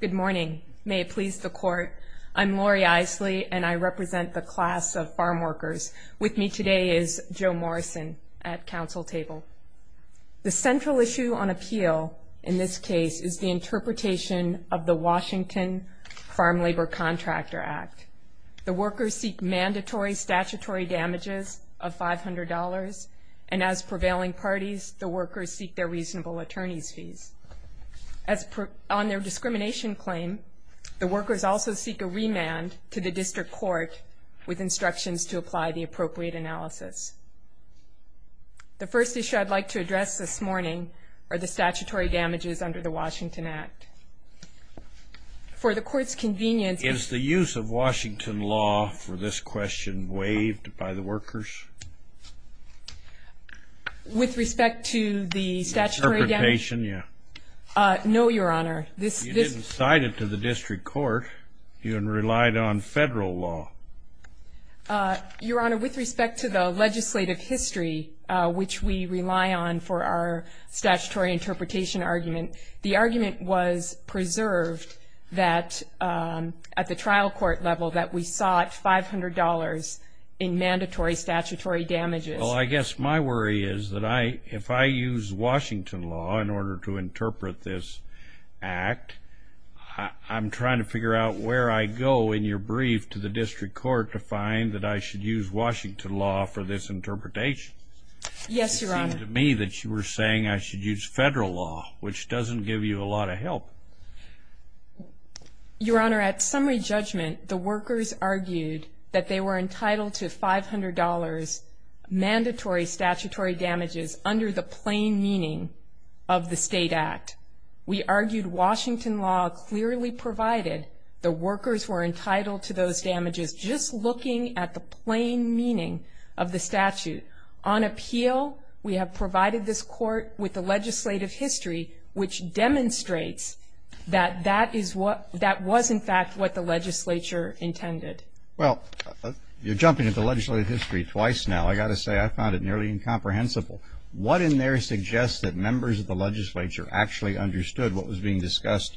Good morning. May it please the Court, I'm Lori Eiseley and I represent the class of farm workers. With me today is Joe Morrison at Council Table. The central issue on appeal in this case is the interpretation of the Washington Farm Labor Contractor Act. The workers seek mandatory statutory damages of $500, and as prevailing parties, the workers seek their reasonable attorney's fees. On their discrimination claim, the workers also seek a remand to the district court with instructions to apply the appropriate analysis. The first issue I'd like to address this morning are the statutory damages under the Washington Act. For the Court's convenience... Is the use of Washington law for this question waived by the workers? With respect to the statutory damages... Interpretation, yeah. No, Your Honor. You didn't cite it to the district court. You relied on federal law. Your Honor, with respect to the legislative history, which we rely on for our statutory interpretation argument, the argument was preserved that at the trial court level that we sought $500 in mandatory statutory damages. Well, I guess my worry is that if I use Washington law in order to interpret this act, I'm trying to figure out where I go in your brief to the district court to find that I should use Washington law for this interpretation. Yes, Your Honor. It seemed to me that you were saying I should use federal law, which doesn't give you a lot of help. Your Honor, at summary judgment, the workers argued that they were entitled to $500 mandatory statutory damages under the plain meaning of the state act. We argued Washington law clearly provided the workers were entitled to those damages, just looking at the plain meaning of the statute. On appeal, we have provided this court with the legislative history, which demonstrates that that was, in fact, what the legislature intended. Well, you're jumping at the legislative history twice now. I've got to say I found it nearly incomprehensible. What in there suggests that members of the legislature actually understood what was being discussed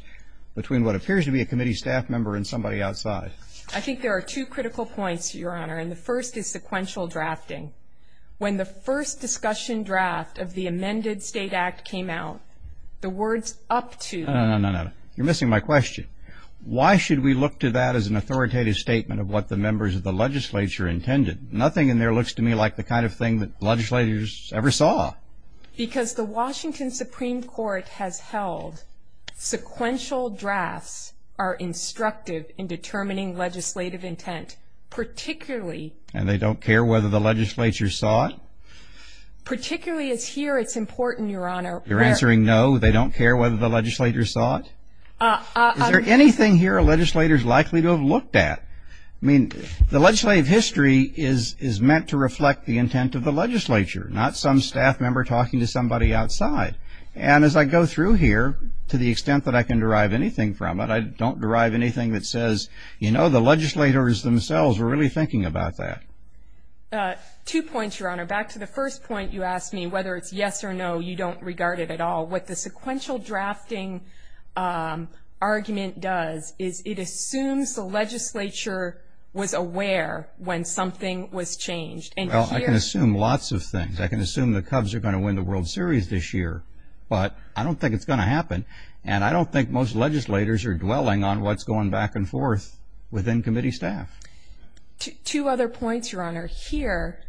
between what appears to be a committee staff member and somebody outside? I think there are two critical points, Your Honor, and the first is sequential drafting. When the first discussion draft of the amended state act came out, the words up to- No, no, no, no. You're missing my question. Why should we look to that as an authoritative statement of what the members of the legislature intended? Nothing in there looks to me like the kind of thing that legislators ever saw. Because the Washington Supreme Court has held sequential drafts are instructive in determining legislative intent, particularly- And they don't care whether the legislature saw it? Particularly as here it's important, Your Honor. You're answering no, they don't care whether the legislature saw it? Is there anything here a legislator is likely to have looked at? I mean, the legislative history is meant to reflect the intent of the legislature, not some staff member talking to somebody outside. And as I go through here, to the extent that I can derive anything from it, but I don't derive anything that says, you know, the legislators themselves were really thinking about that. Two points, Your Honor. Back to the first point you asked me, whether it's yes or no, you don't regard it at all. What the sequential drafting argument does is it assumes the legislature was aware when something was changed. Well, I can assume lots of things. I can assume the Cubs are going to win the World Series this year. But I don't think it's going to happen. And I don't think most legislators are dwelling on what's going back and forth within committee staff. Two other points, Your Honor. Here,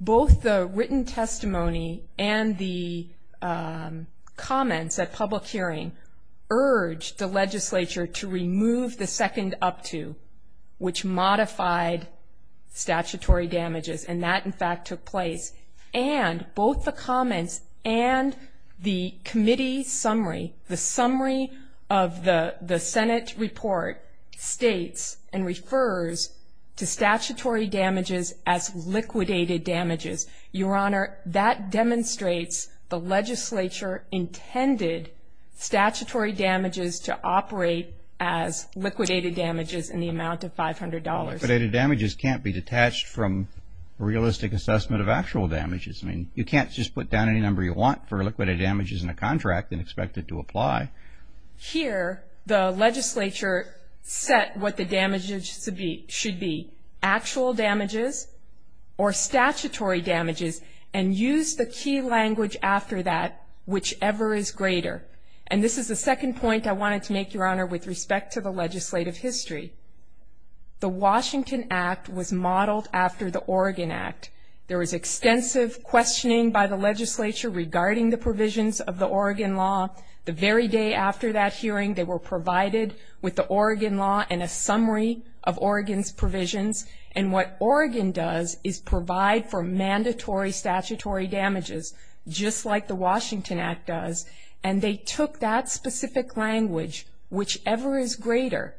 both the written testimony and the comments at public hearing urged the legislature to remove the second up to, which modified statutory damages. And that, in fact, took place. And both the comments and the committee summary, the summary of the Senate report, states and refers to statutory damages as liquidated damages. Your Honor, that demonstrates the legislature intended statutory damages to operate as liquidated damages in the amount of $500. Liquidated damages can't be detached from realistic assessment of actual damages. I mean, you can't just put down any number you want for liquidated damages in a contract and expect it to apply. Here, the legislature set what the damages should be, actual damages or statutory damages, and used the key language after that, whichever is greater. And this is the second point I wanted to make, Your Honor, with respect to the legislative history. The Washington Act was modeled after the Oregon Act. There was extensive questioning by the legislature regarding the provisions of the Oregon law. The very day after that hearing, they were provided with the Oregon law and a summary of Oregon's provisions. And what Oregon does is provide for mandatory statutory damages, just like the Washington Act does. And they took that specific language, whichever is greater,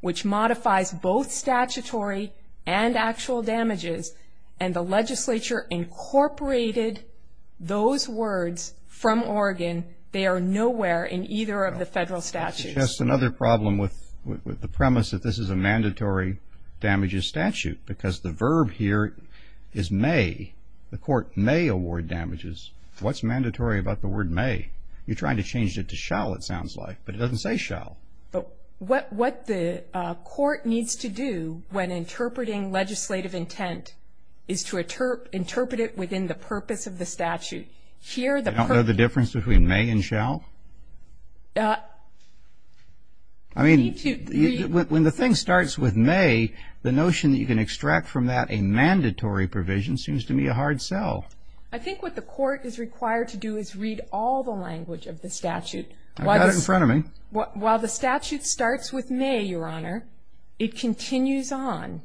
which modifies both statutory and actual damages, and the legislature incorporated those words from Oregon. They are nowhere in either of the federal statutes. Just another problem with the premise that this is a mandatory damages statute, because the verb here is may. The court may award damages. What's mandatory about the word may? You're trying to change it to shall, it sounds like, but it doesn't say shall. But what the court needs to do when interpreting legislative intent is to interpret it within the purpose of the statute. You don't know the difference between may and shall? I mean, when the thing starts with may, the notion that you can extract from that a mandatory provision seems to me a hard sell. I think what the court is required to do is read all the language of the statute. I've got it in front of me. While the statute starts with may, Your Honor, it continues on.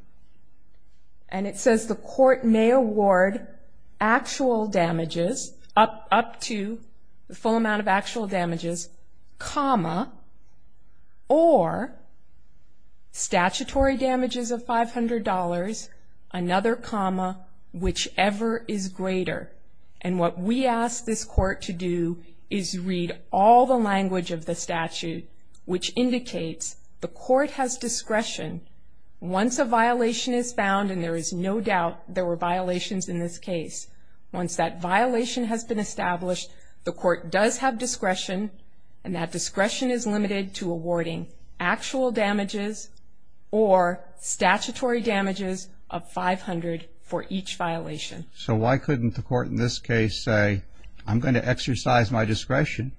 And it says the court may award actual damages up to the full amount of actual damages, comma, or statutory damages of $500, another comma, whichever is greater. And what we ask this court to do is read all the language of the statute, which indicates the court has discretion. Once a violation is found, and there is no doubt there were violations in this case, once that violation has been established, the court does have discretion, and that discretion is limited to awarding actual damages or statutory damages of $500 for each violation. So why couldn't the court in this case say, I'm going to exercise my discretion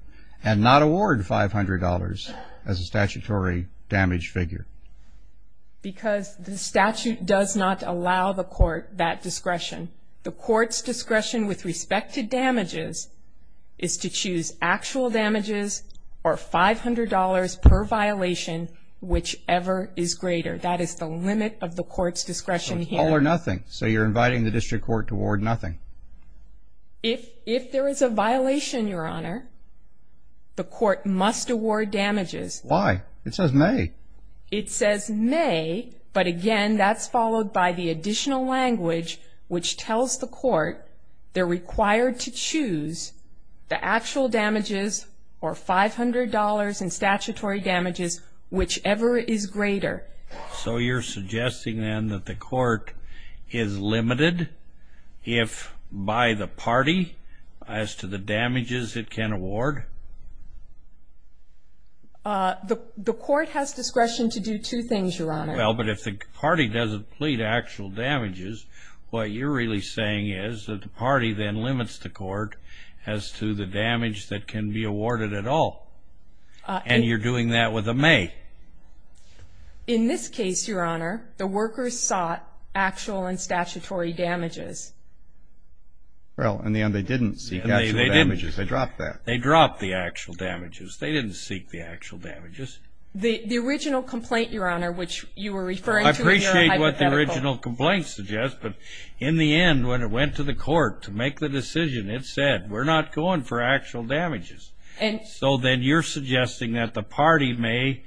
and not award $500 as a statutory damage figure? Because the statute does not allow the court that discretion. The court's discretion with respect to damages is to choose actual damages or $500 per violation, whichever is greater. That is the limit of the court's discretion here. So it's all or nothing. So you're inviting the district court to award nothing. If there is a violation, Your Honor, the court must award damages. Why? It says may. It says may, but, again, that's followed by the additional language, which tells the court they're required to choose the actual damages or $500 in statutory damages, whichever is greater. So you're suggesting, then, that the court is limited if by the party as to the damages it can award? The court has discretion to do two things, Your Honor. Well, but if the party doesn't plead actual damages, what you're really saying is that the party then limits the court as to the damage that can be awarded at all. And you're doing that with a may. In this case, Your Honor, the workers sought actual and statutory damages. Well, in the end they didn't seek actual damages. They dropped that. They dropped that. They dropped the actual damages. They didn't seek the actual damages. The original complaint, Your Honor, which you were referring to in your hypothetical. I appreciate what the original complaint suggests, but in the end when it went to the court to make the decision, it said, we're not going for actual damages. So then you're suggesting that the party may,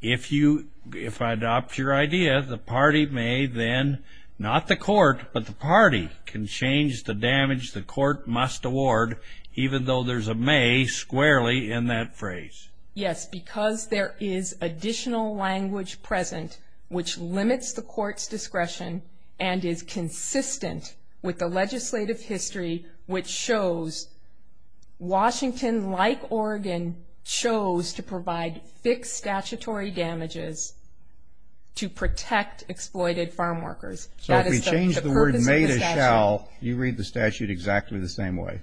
if I adopt your idea, the party may then, not the court, but the party can change the damage the court must award even though there's a may squarely in that phrase. Yes, because there is additional language present which limits the court's discretion and is consistent with the legislative history which shows Washington, like Oregon, chose to provide fixed statutory damages to protect exploited farm workers. So if we change the word may to shall, you read the statute exactly the same way.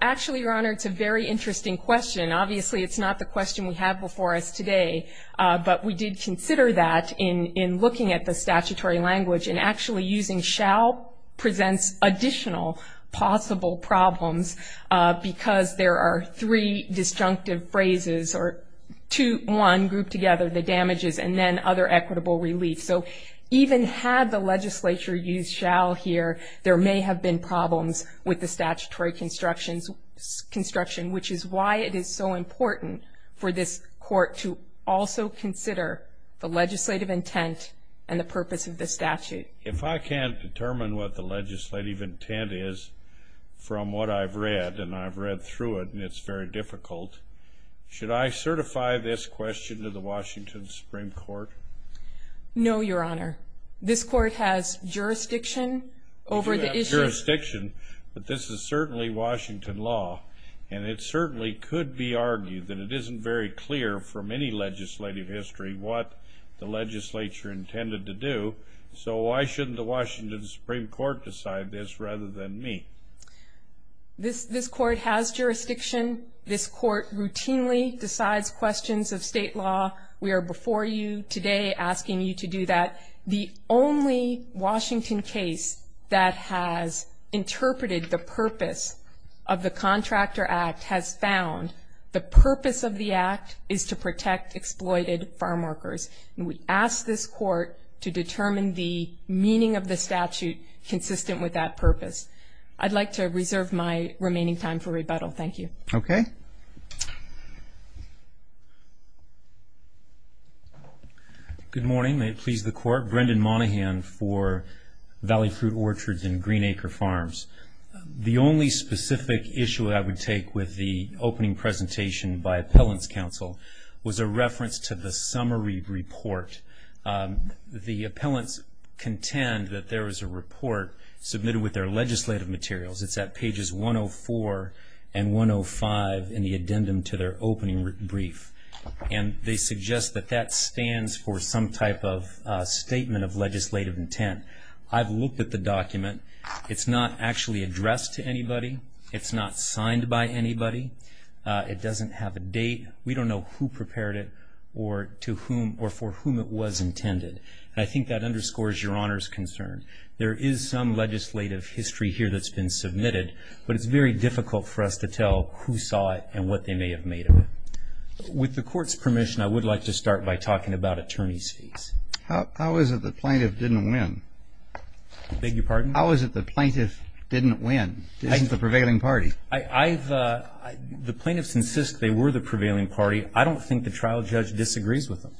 Actually, Your Honor, it's a very interesting question. Obviously it's not the question we have before us today, but we did consider that in looking at the statutory language, and actually using shall presents additional possible problems because there are three disjunctive phrases or two, one grouped together, the damages, and then other equitable relief. So even had the legislature used shall here, there may have been problems with the statutory construction, which is why it is so important for this court to also consider the legislative intent and the purpose of the statute. If I can't determine what the legislative intent is from what I've read, and I've read through it, and it's very difficult, should I certify this question to the Washington Supreme Court? No, Your Honor. This court has jurisdiction over the issue. We do have jurisdiction, but this is certainly Washington law, and it certainly could be argued that it isn't very clear from any legislative history what the legislature intended to do. So why shouldn't the Washington Supreme Court decide this rather than me? This court has jurisdiction. This court routinely decides questions of state law. We are before you today asking you to do that. The only Washington case that has interpreted the purpose of the Contractor Act has found the purpose of the act is to protect exploited farm workers, and we ask this court to determine the meaning of the statute consistent with that purpose. I'd like to reserve my remaining time for rebuttal. Thank you. Okay. Good morning. May it please the Court. Brendan Monaghan for Valley Fruit Orchards and Green Acre Farms. The only specific issue I would take with the opening presentation by Appellant's Counsel was a reference to the summary report. The appellants contend that there is a report submitted with their legislative materials. It's at pages 104 and 105 in the addendum to their opening brief, and they suggest that that stands for some type of statement of legislative intent. I've looked at the document. It's not actually addressed to anybody. It's not signed by anybody. It doesn't have a date. We don't know who prepared it or to whom or for whom it was intended, and I think that underscores Your Honor's concern. There is some legislative history here that's been submitted, but it's very difficult for us to tell who saw it and what they may have made of it. With the Court's permission, I would like to start by talking about attorney's fees. How is it the plaintiff didn't win? I beg your pardon? How is it the plaintiff didn't win? This is the prevailing party. The plaintiffs insist they were the prevailing party. I don't think the trial judge disagrees with them.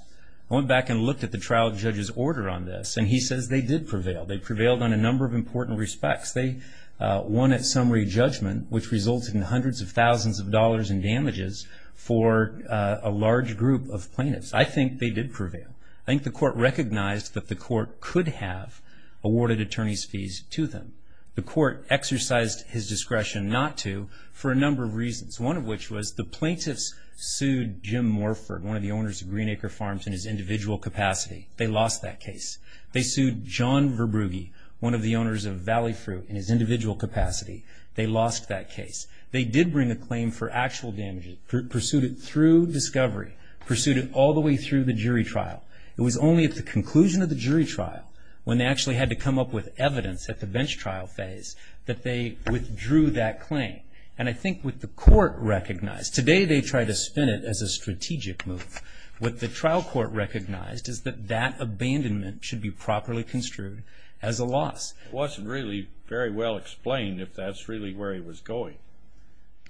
I went back and looked at the trial judge's order on this, and he says they did prevail. They prevailed on a number of important respects. They won at summary judgment, which resulted in hundreds of thousands of dollars in damages for a large group of plaintiffs. I think they did prevail. I think the Court recognized that the Court could have awarded attorney's fees to them. The Court exercised his discretion not to for a number of reasons, one of which was the plaintiffs sued Jim Morford, one of the owners of Greenacre Farms, in his individual capacity. They lost that case. They sued John Verbrugge, one of the owners of Valley Fruit, in his individual capacity. They lost that case. They did bring a claim for actual damages, pursued it through discovery, pursued it all the way through the jury trial. It was only at the conclusion of the jury trial, when they actually had to come up with evidence at the bench trial phase, that they withdrew that claim. And I think what the Court recognized, today they try to spin it as a strategic move. What the trial court recognized is that that abandonment should be properly construed as a loss. It wasn't really very well explained if that's really where he was going.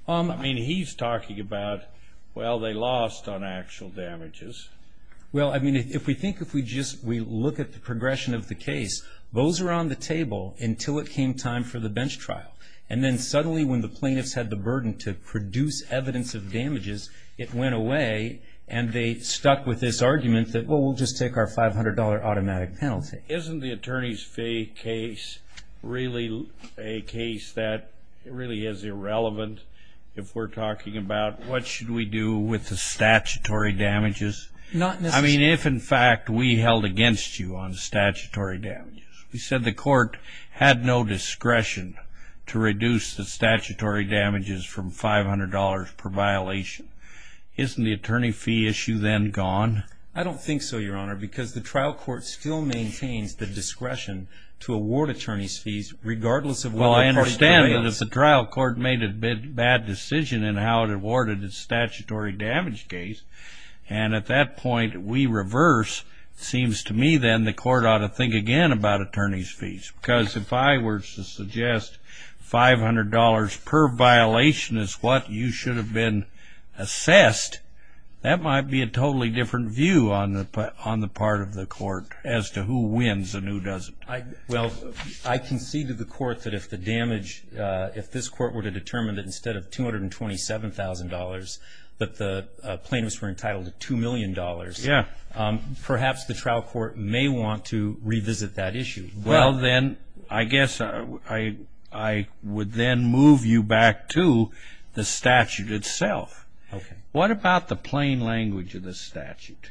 I mean, he's talking about, well, they lost on actual damages. Well, I mean, if we think, if we just look at the progression of the case, those are on the table until it came time for the bench trial. And then suddenly when the plaintiffs had the burden to produce evidence of damages, it went away and they stuck with this argument that, well, we'll just take our $500 automatic penalty. Isn't the attorney's fee case really a case that really is irrelevant if we're talking about what should we do with the statutory damages? I mean, if, in fact, we held against you on statutory damages, we said the court had no discretion to reduce the statutory damages from $500 per violation. Isn't the attorney fee issue then gone? I don't think so, Your Honor, because the trial court still maintains the discretion to award attorney's fees regardless of what the court has done. Well, I understand that if the trial court made a bad decision in how it awarded the statutory damage case, and at that point we reverse, it seems to me then the court ought to think again about attorney's fees, because if I were to suggest $500 per violation is what you should have been assessed, that might be a totally different view on the part of the court as to who wins and who doesn't. Well, I conceded to the court that if the damage, if this court were to determine that instead of $227,000 but the plaintiffs were entitled to $2 million, perhaps the trial court may want to revisit that issue. Well, then, I guess I would then move you back to the statute itself. Okay. What about the plain language of the statute?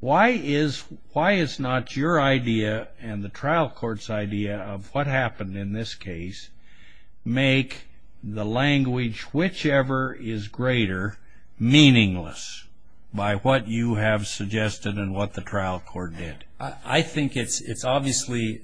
Why is not your idea and the trial court's idea of what happened in this case make the language, whichever is greater, meaningless by what you have suggested and what the trial court did? I think it's obviously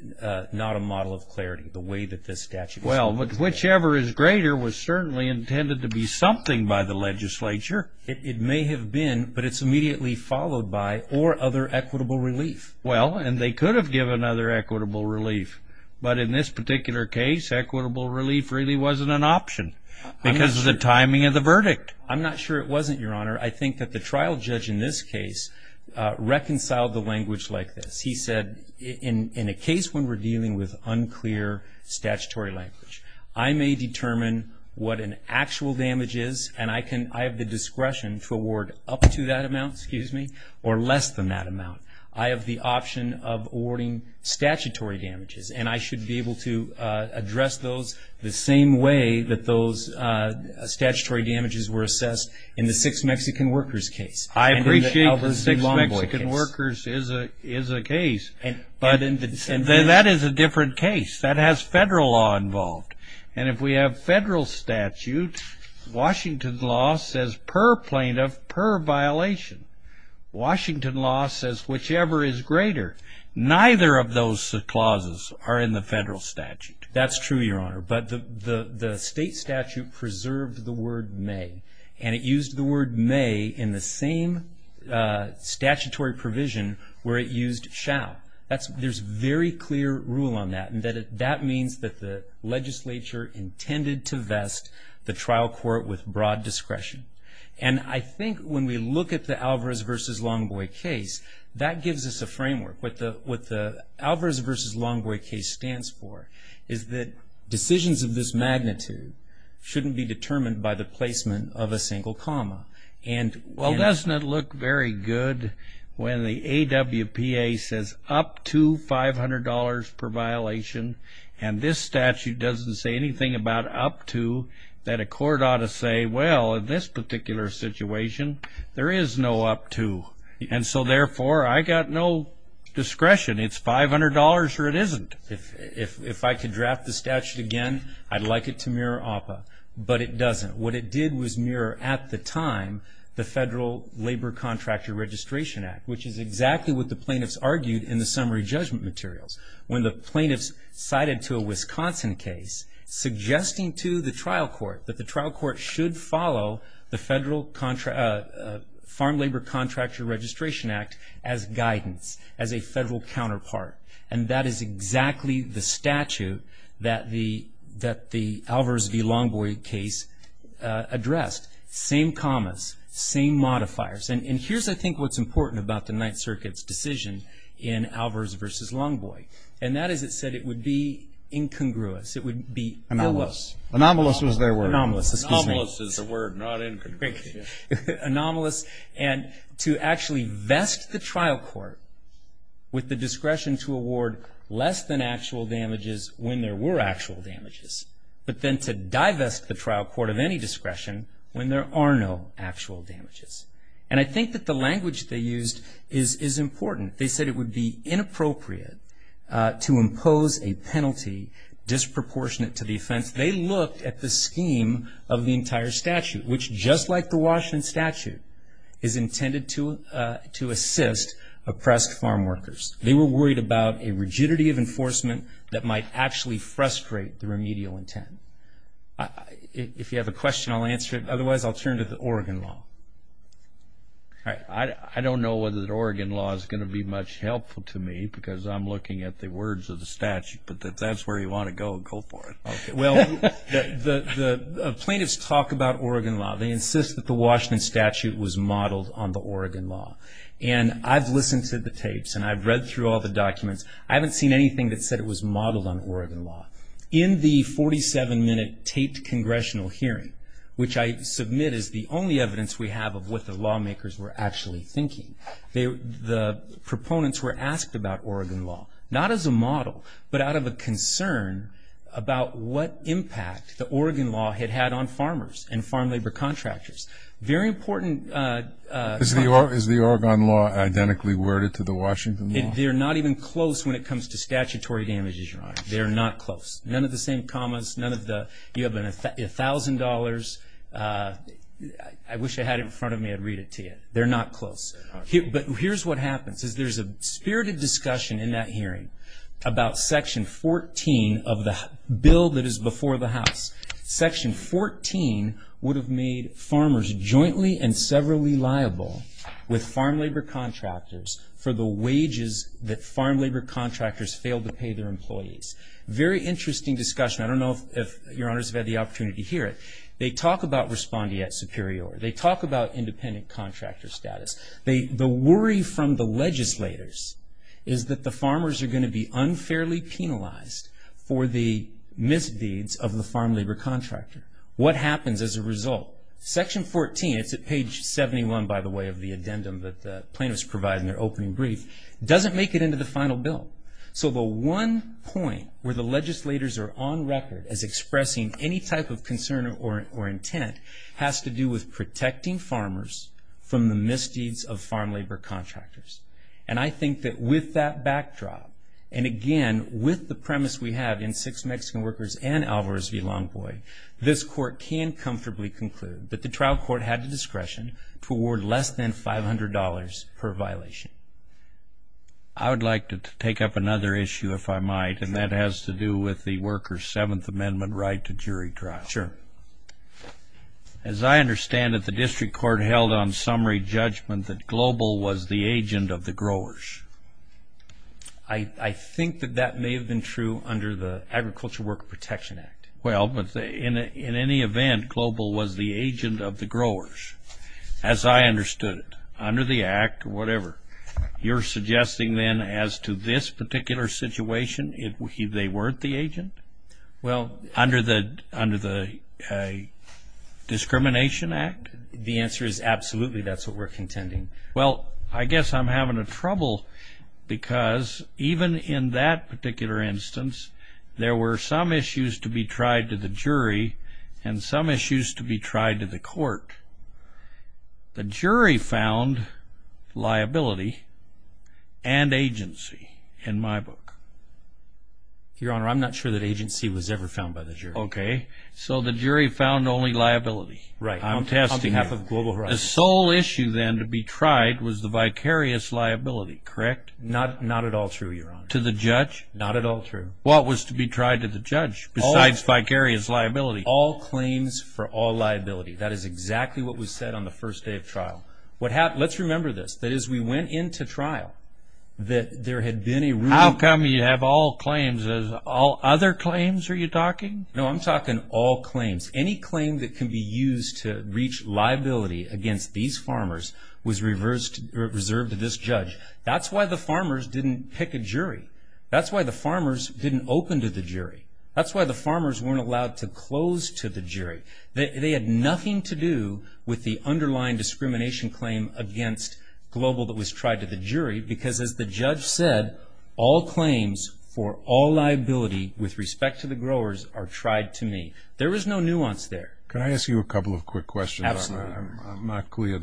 not a model of clarity, the way that this statute is. Well, whichever is greater was certainly intended to be something by the legislature. It may have been, but it's immediately followed by or other equitable relief. Well, and they could have given other equitable relief, but in this particular case equitable relief really wasn't an option because of the timing of the verdict. I'm not sure it wasn't, Your Honor. I think that the trial judge in this case reconciled the language like this. He said, in a case when we're dealing with unclear statutory language, I may determine what an actual damage is and I have the discretion to award up to that amount or less than that amount. I have the option of awarding statutory damages, and I should be able to address those the same way that those statutory damages were assessed in the six Mexican workers case. I appreciate the six Mexican workers is a case, but that is a different case. That has federal law involved, and if we have federal statute, Washington law says per plaintiff, per violation. Washington law says whichever is greater. Neither of those clauses are in the federal statute. That's true, Your Honor, but the state statute preserved the word may, and it used the word may in the same statutory provision where it used shall. There's very clear rule on that, and that means that the legislature intended to vest the trial court with broad discretion. I think when we look at the Alvarez v. Longboy case, that gives us a framework. What the Alvarez v. Longboy case stands for is that decisions of this magnitude shouldn't be determined by the placement of a single comma. Well, doesn't it look very good when the AWPA says up to $500 per violation, and this statute doesn't say anything about up to, that a court ought to say, well, in this particular situation, there is no up to, and so, therefore, I got no discretion. It's $500 or it isn't. If I could draft the statute again, I'd like it to mirror AWPA, but it doesn't. What it did was mirror at the time the Federal Labor Contractor Registration Act, which is exactly what the plaintiffs argued in the summary judgment materials. When the plaintiffs cited to a Wisconsin case, suggesting to the trial court that the trial court should follow the Farm Labor Contractor Registration Act as guidance, as a federal counterpart, and that is exactly the statute that the Alvarez v. Longboy case addressed. Same commas, same modifiers. And here's, I think, what's important about the Ninth Circuit's decision in Alvarez v. Longboy, and that is it said it would be incongruous. It would be anomalous. Anomalous was their word. Anomalous, excuse me. Anomalous is the word, not incongruous. Anomalous, and to actually vest the trial court with the discretion to award less than actual damages when there were actual damages, but then to divest the trial court of any discretion when there are no actual damages. And I think that the language they used is important. They said it would be inappropriate to impose a penalty disproportionate to the offense. They looked at the scheme of the entire statute, which just like the Washington statute is intended to assist oppressed farm workers. They were worried about a rigidity of enforcement that might actually frustrate the remedial intent. If you have a question, I'll answer it. Otherwise, I'll turn to the Oregon law. I don't know whether the Oregon law is going to be much helpful to me because I'm looking at the words of the statute, but if that's where you want to go, go for it. Well, the plaintiffs talk about Oregon law. They insist that the Washington statute was modeled on the Oregon law. And I've listened to the tapes, and I've read through all the documents. I haven't seen anything that said it was modeled on Oregon law. In the 47-minute taped congressional hearing, which I submit is the only evidence we have of what the lawmakers were actually thinking, the proponents were asked about Oregon law, not as a model, but out of a concern about what impact the Oregon law had had on farmers and farm labor contractors. Very important. Is the Oregon law identically worded to the Washington law? They're not even close when it comes to statutory damages, Your Honor. They're not close. None of the same commas. You have $1,000. I wish I had it in front of me. I'd read it to you. They're not close. But here's what happens is there's a spirited discussion in that hearing about Section 14 of the bill that is before the House. Section 14 would have made farmers jointly and severally liable with farm labor contractors for the wages that farm labor contractors failed to pay their employees. Very interesting discussion. I don't know if Your Honors have had the opportunity to hear it. They talk about respondeat superior. They talk about independent contractor status. The worry from the legislators is that the farmers are going to be unfairly penalized for the misdeeds of the farm labor contractor. What happens as a result? Section 14, it's at page 71, by the way, of the addendum that the plaintiffs provide in their opening brief, doesn't make it into the final bill. So the one point where the legislators are on record as expressing any type of concern or intent has to do with protecting farmers from the misdeeds of farm labor contractors. And I think that with that backdrop and, again, with the premise we have in and Alvarez v. Longboy, this court can comfortably conclude that the trial court had the discretion to award less than $500 per violation. I would like to take up another issue, if I might, and that has to do with the workers' Seventh Amendment right to jury trial. Sure. As I understand it, the district court held on summary judgment that Global was the agent of the growers. I think that that may have been true under the Agriculture Worker Protection Act. Well, but in any event, Global was the agent of the growers, as I understood it, under the Act or whatever. You're suggesting then as to this particular situation, they weren't the agent? Well, under the Discrimination Act? The answer is absolutely. That's what we're contending. Well, I guess I'm having trouble because even in that particular instance, there were some issues to be tried to the jury and some issues to be tried to the court. The jury found liability and agency in my book. Your Honor, I'm not sure that agency was ever found by the jury. Okay. So the jury found only liability. Right. On behalf of Global, right. The sole issue then to be tried was the vicarious liability, correct? Not at all true, Your Honor. To the judge? Not at all true. What was to be tried to the judge besides vicarious liability? All claims for all liability. That is exactly what was said on the first day of trial. Let's remember this. That is, we went into trial. How come you have all claims? Are you talking all other claims? No, I'm talking all claims. Any claim that can be used to reach liability against these farmers was reserved to this judge. That's why the farmers didn't pick a jury. That's why the farmers didn't open to the jury. That's why the farmers weren't allowed to close to the jury. They had nothing to do with the underlying discrimination claim against Global that was tried to the jury because, as the judge said, all claims for all liability with respect to the growers are tried to me. There was no nuance there. Can I ask you a couple of quick questions? Absolutely. I'm not clear.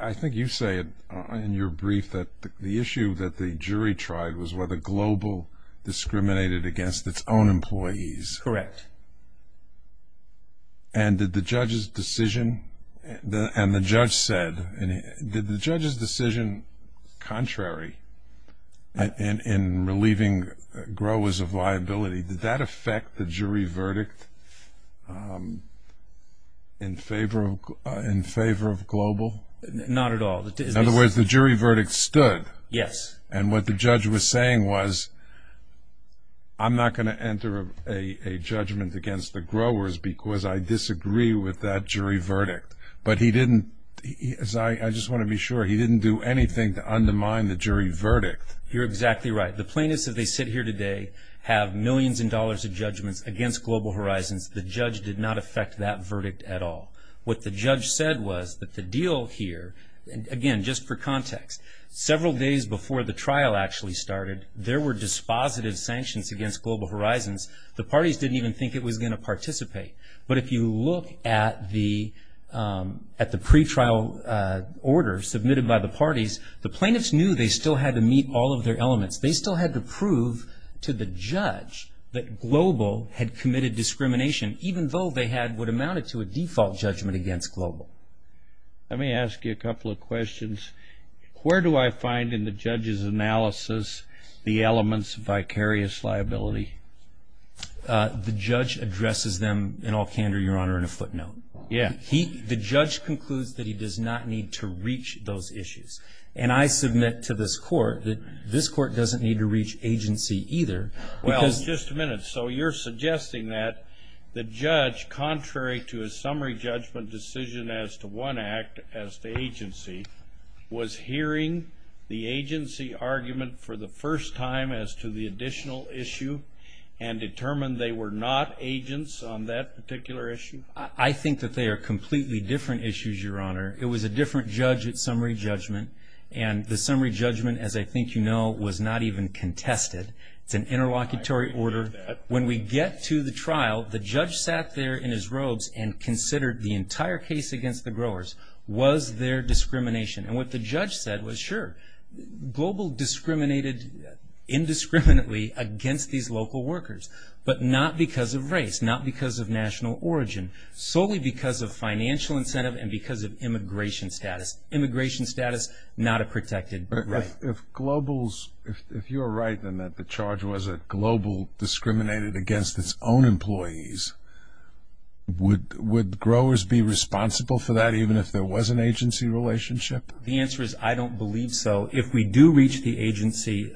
I think you say in your brief that the issue that the jury tried was whether Global discriminated against its own employees. Correct. And did the judge's decision contrary in relieving growers of liability, did that affect the jury verdict in favor of Global? Not at all. In other words, the jury verdict stood. Yes. And what the judge was saying was, I'm not going to enter a judgment against the growers because I disagree with that jury verdict. But he didn't, as I just want to be sure, he didn't do anything to undermine the jury verdict. You're exactly right. The plaintiffs, as they sit here today, have millions of dollars of judgments against Global Horizons. The judge did not affect that verdict at all. What the judge said was that the deal here, again, just for context, several days before the trial actually started, there were dispositive sanctions against Global Horizons. The parties didn't even think it was going to participate. But if you look at the pretrial order submitted by the parties, the plaintiffs knew they still had to meet all of their elements. They still had to prove to the judge that Global had committed discrimination, even though they had what amounted to a default judgment against Global. Let me ask you a couple of questions. Where do I find in the judge's analysis the elements of vicarious liability? The judge addresses them in all candor, Your Honor, in a footnote. Yeah. The judge concludes that he does not need to reach those issues. And I submit to this Court that this Court doesn't need to reach agency either. Well, just a minute. So you're suggesting that the judge, contrary to his summary judgment decision as to one act, as to agency, was hearing the agency argument for the first time as to the additional issue and determined they were not agents on that particular issue? I think that they are completely different issues, Your Honor. It was a different judge at summary judgment. And the summary judgment, as I think you know, was not even contested. It's an interlocutory order. When we get to the trial, the judge sat there in his robes and considered the entire case against the growers was their discrimination. And what the judge said was, sure, Global discriminated indiscriminately against these local workers, but not because of race, not because of national origin, solely because of financial incentive and because of immigration status. Immigration status, not a protected right. If Global's, if you're right in that the charge was that Global discriminated against its own employees, would growers be responsible for that even if there was an agency relationship? The answer is I don't believe so. If we do reach the agency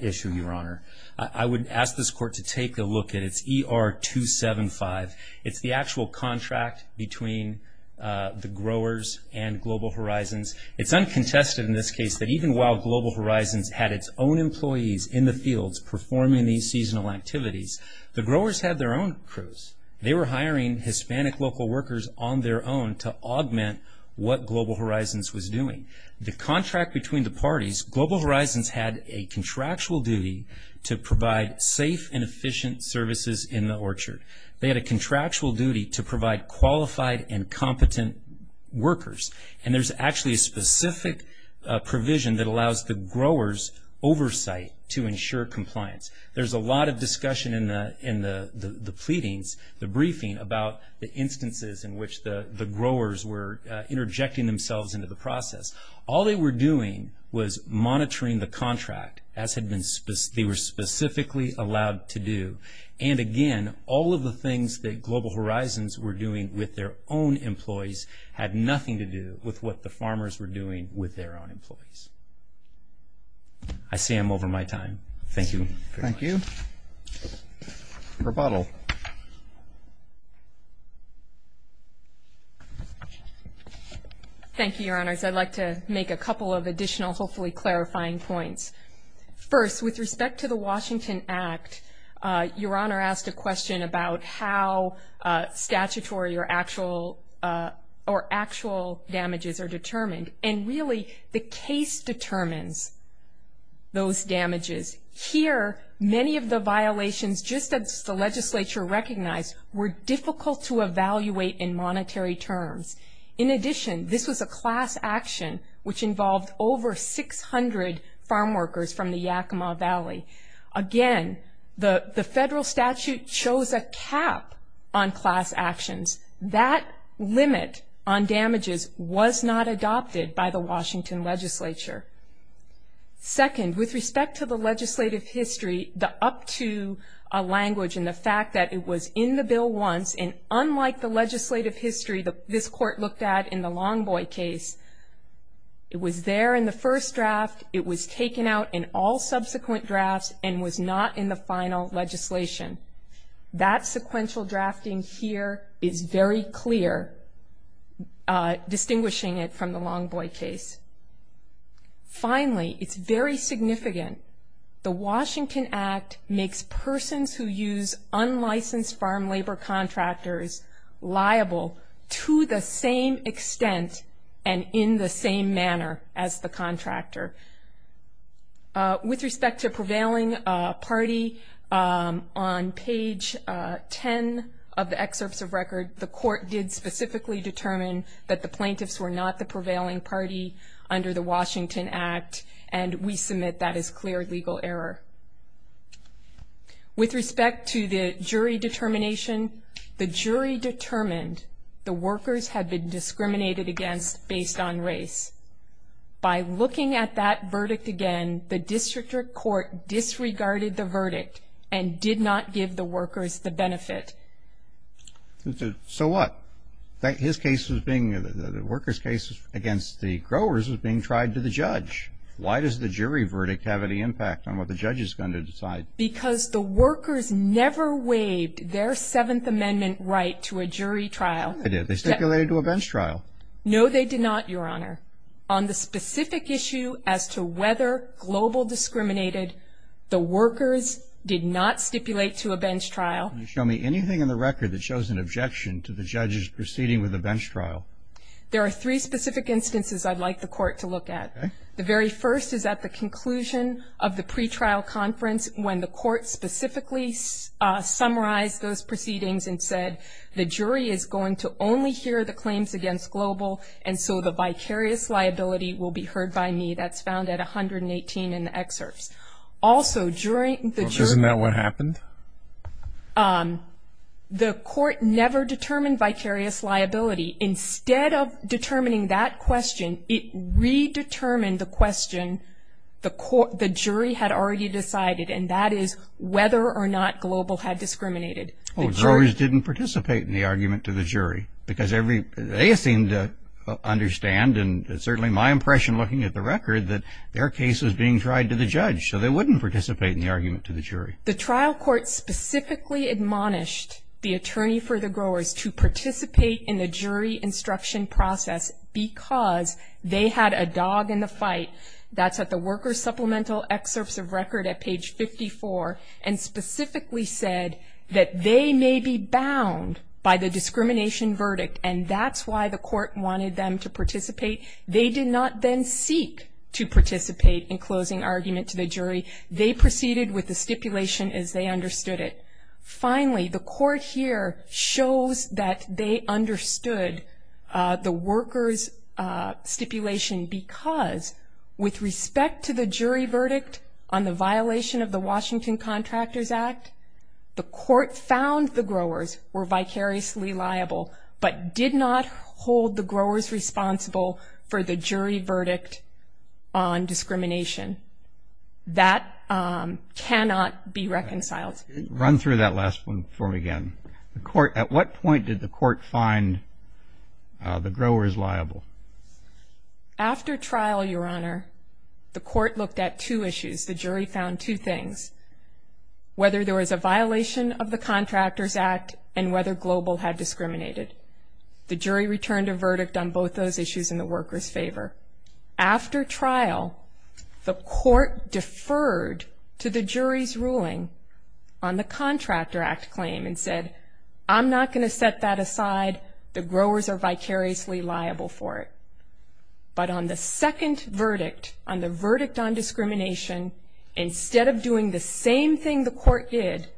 issue, Your Honor, I would ask this Court to take a look at its ER-275. It's the actual contract between the growers and Global Horizons. It's uncontested in this case that even while Global Horizons had its own employees in the fields performing these seasonal activities, the growers had their own crews. They were hiring Hispanic local workers on their own to augment what Global Horizons was doing. The contract between the parties, Global Horizons had a contractual duty to provide safe and efficient services in the orchard. They had a contractual duty to provide qualified and competent workers. And there's actually a specific provision that allows the growers oversight to ensure compliance. There's a lot of discussion in the pleadings, the briefing, about the instances in which the growers were interjecting themselves into the process. All they were doing was monitoring the contract, as they were specifically allowed to do. And again, all of the things that Global Horizons were doing with their own employees had nothing to do with what the farmers were doing with their own employees. I say I'm over my time. Thank you. Thank you. Rebuttal. Thank you, Your Honors. I'd like to make a couple of additional, hopefully clarifying points. First, with respect to the Washington Act, Your Honor asked a question about how statutory or actual damages are determined. And really, the case determines those damages. Here, many of the violations, just as the legislature recognized, were difficult to evaluate in monetary terms. In addition, this was a class action, which involved over 600 farm workers from the Yakima Valley. Again, the federal statute shows a cap on class actions. That limit on damages was not adopted by the Washington legislature. Second, with respect to the legislative history, the up-to language and the fact that it was in the bill once, and unlike the legislative history that this court looked at in the Longboy case, it was there in the first draft, it was taken out in all subsequent drafts, and was not in the final legislation. That sequential drafting here is very clear, distinguishing it from the Longboy case. Finally, it's very significant. The Washington Act makes persons who use unlicensed farm labor contractors liable to the same extent and in the same manner as the contractor. With respect to prevailing party, on page 10 of the excerpts of record, the court did specifically determine that the plaintiffs were not the prevailing party under the Washington Act, and we submit that as clear legal error. With respect to the jury determination, the jury determined the workers had been discriminated against based on race. By looking at that verdict again, the district court disregarded the verdict and did not give the workers the benefit. So what? His case was being, the workers' case against the growers was being tried to the judge. Why does the jury verdict have any impact on what the judge is going to decide? Because the workers never waived their Seventh Amendment right to a jury trial. They did. They stipulated to a bench trial. No, they did not, Your Honor. On the specific issue as to whether global discriminated, the workers did not stipulate to a bench trial. Can you show me anything in the record that shows an objection to the judge's proceeding with a bench trial? There are three specific instances I'd like the court to look at. Okay. The very first is at the conclusion of the pretrial conference when the court specifically summarized those proceedings and said, the jury is going to only hear the claims against global, and so the vicarious liability will be heard by me. That's found at 118 in the excerpts. Isn't that what happened? The court never determined vicarious liability. Instead of determining that question, it redetermined the question the jury had already decided, and that is whether or not global had discriminated. The growers didn't participate in the argument to the jury because they seemed to understand, and certainly my impression looking at the record, that their case was being tried to the judge, so they wouldn't participate in the argument to the jury. The trial court specifically admonished the attorney for the growers to participate in the jury instruction process because they had a dog in the fight. That's at the worker supplemental excerpts of record at page 54, and specifically said that they may be bound by the discrimination verdict, and that's why the court wanted them to participate. They did not then seek to participate in closing argument to the jury. They proceeded with the stipulation as they understood it. Finally, the court here shows that they understood the workers' stipulation because with respect to the jury verdict on the violation of the Washington Contractors Act, the court found the growers were vicariously liable, but did not hold the growers responsible for the jury verdict on discrimination. That cannot be reconciled. Run through that last one for me again. At what point did the court find the growers liable? After trial, Your Honor, the court looked at two issues. The jury found two things, whether there was a violation of the Contractors Act and whether Global had discriminated. The jury returned a verdict on both those issues in the workers' favor. After trial, the court deferred to the jury's ruling on the Contractor Act claim and said, I'm not going to set that aside. The growers are vicariously liable for it. But on the second verdict, on the verdict on discrimination, instead of doing the same thing the court did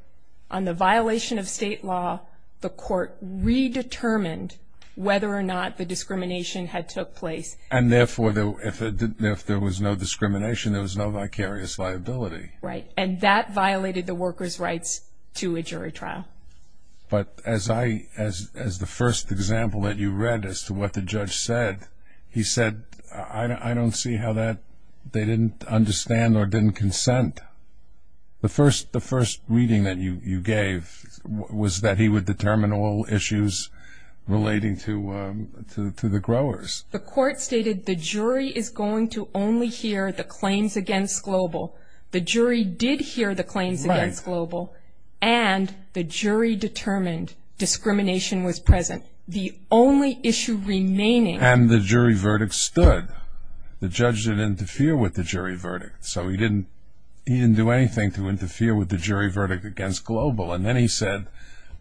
on the violation of state law, the court redetermined whether or not the discrimination had took place. And therefore, if there was no discrimination, there was no vicarious liability. Right. And that violated the workers' rights to a jury trial. But as the first example that you read as to what the judge said, he said, I don't see how that they didn't understand or didn't consent. The first reading that you gave was that he would determine all issues relating to the growers. The court stated the jury is going to only hear the claims against Global. The jury did hear the claims against Global. And the jury determined discrimination was present. And the jury verdict stood. The judge didn't interfere with the jury verdict. So he didn't do anything to interfere with the jury verdict against Global. And then he said,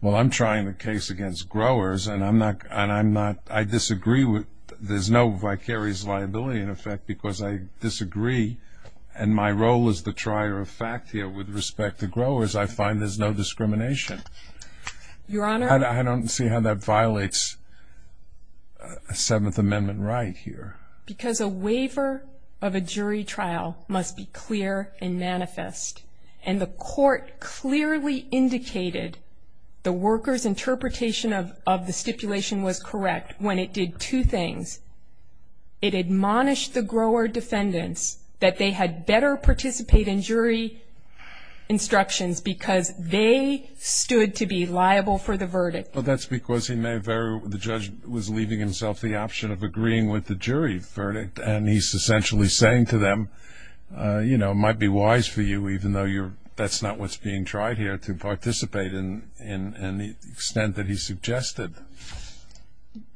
well, I'm trying the case against growers, and I disagree. There's no vicarious liability, in effect, because I disagree, and my role is the trier of fact here with respect to growers. I find there's no discrimination. Your Honor. I don't see how that violates a Seventh Amendment right here. Because a waiver of a jury trial must be clear and manifest. And the court clearly indicated the workers' interpretation of the stipulation was correct when it did two things. It admonished the grower defendants that they had better participate in jury instructions because they stood to be liable for the verdict. Well, that's because the judge was leaving himself the option of agreeing with the jury verdict, and he's essentially saying to them, you know, it might be wise for you, even though that's not what's being tried here, to participate in the extent that he suggested.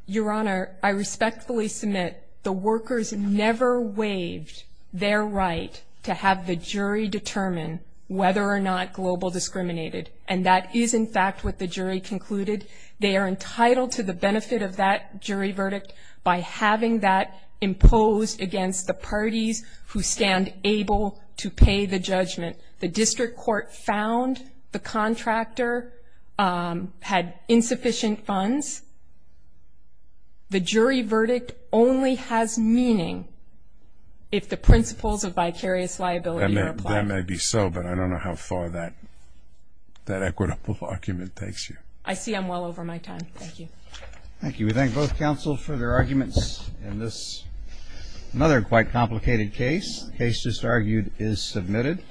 Your Honor, I respectfully submit the workers never waived their right to have the jury determine whether or not global discriminated. And that is, in fact, what the jury concluded. They are entitled to the benefit of that jury verdict by having that imposed against the parties who stand able to pay the judgment. The district court found the contractor had insufficient funds. The jury verdict only has meaning if the principles of vicarious liability are applied. That may be so, but I don't know how far that equitable argument takes you. I see I'm well over my time. Thank you. Thank you. We thank both counsel for their arguments in this, another quite complicated case. The case just argued is submitted.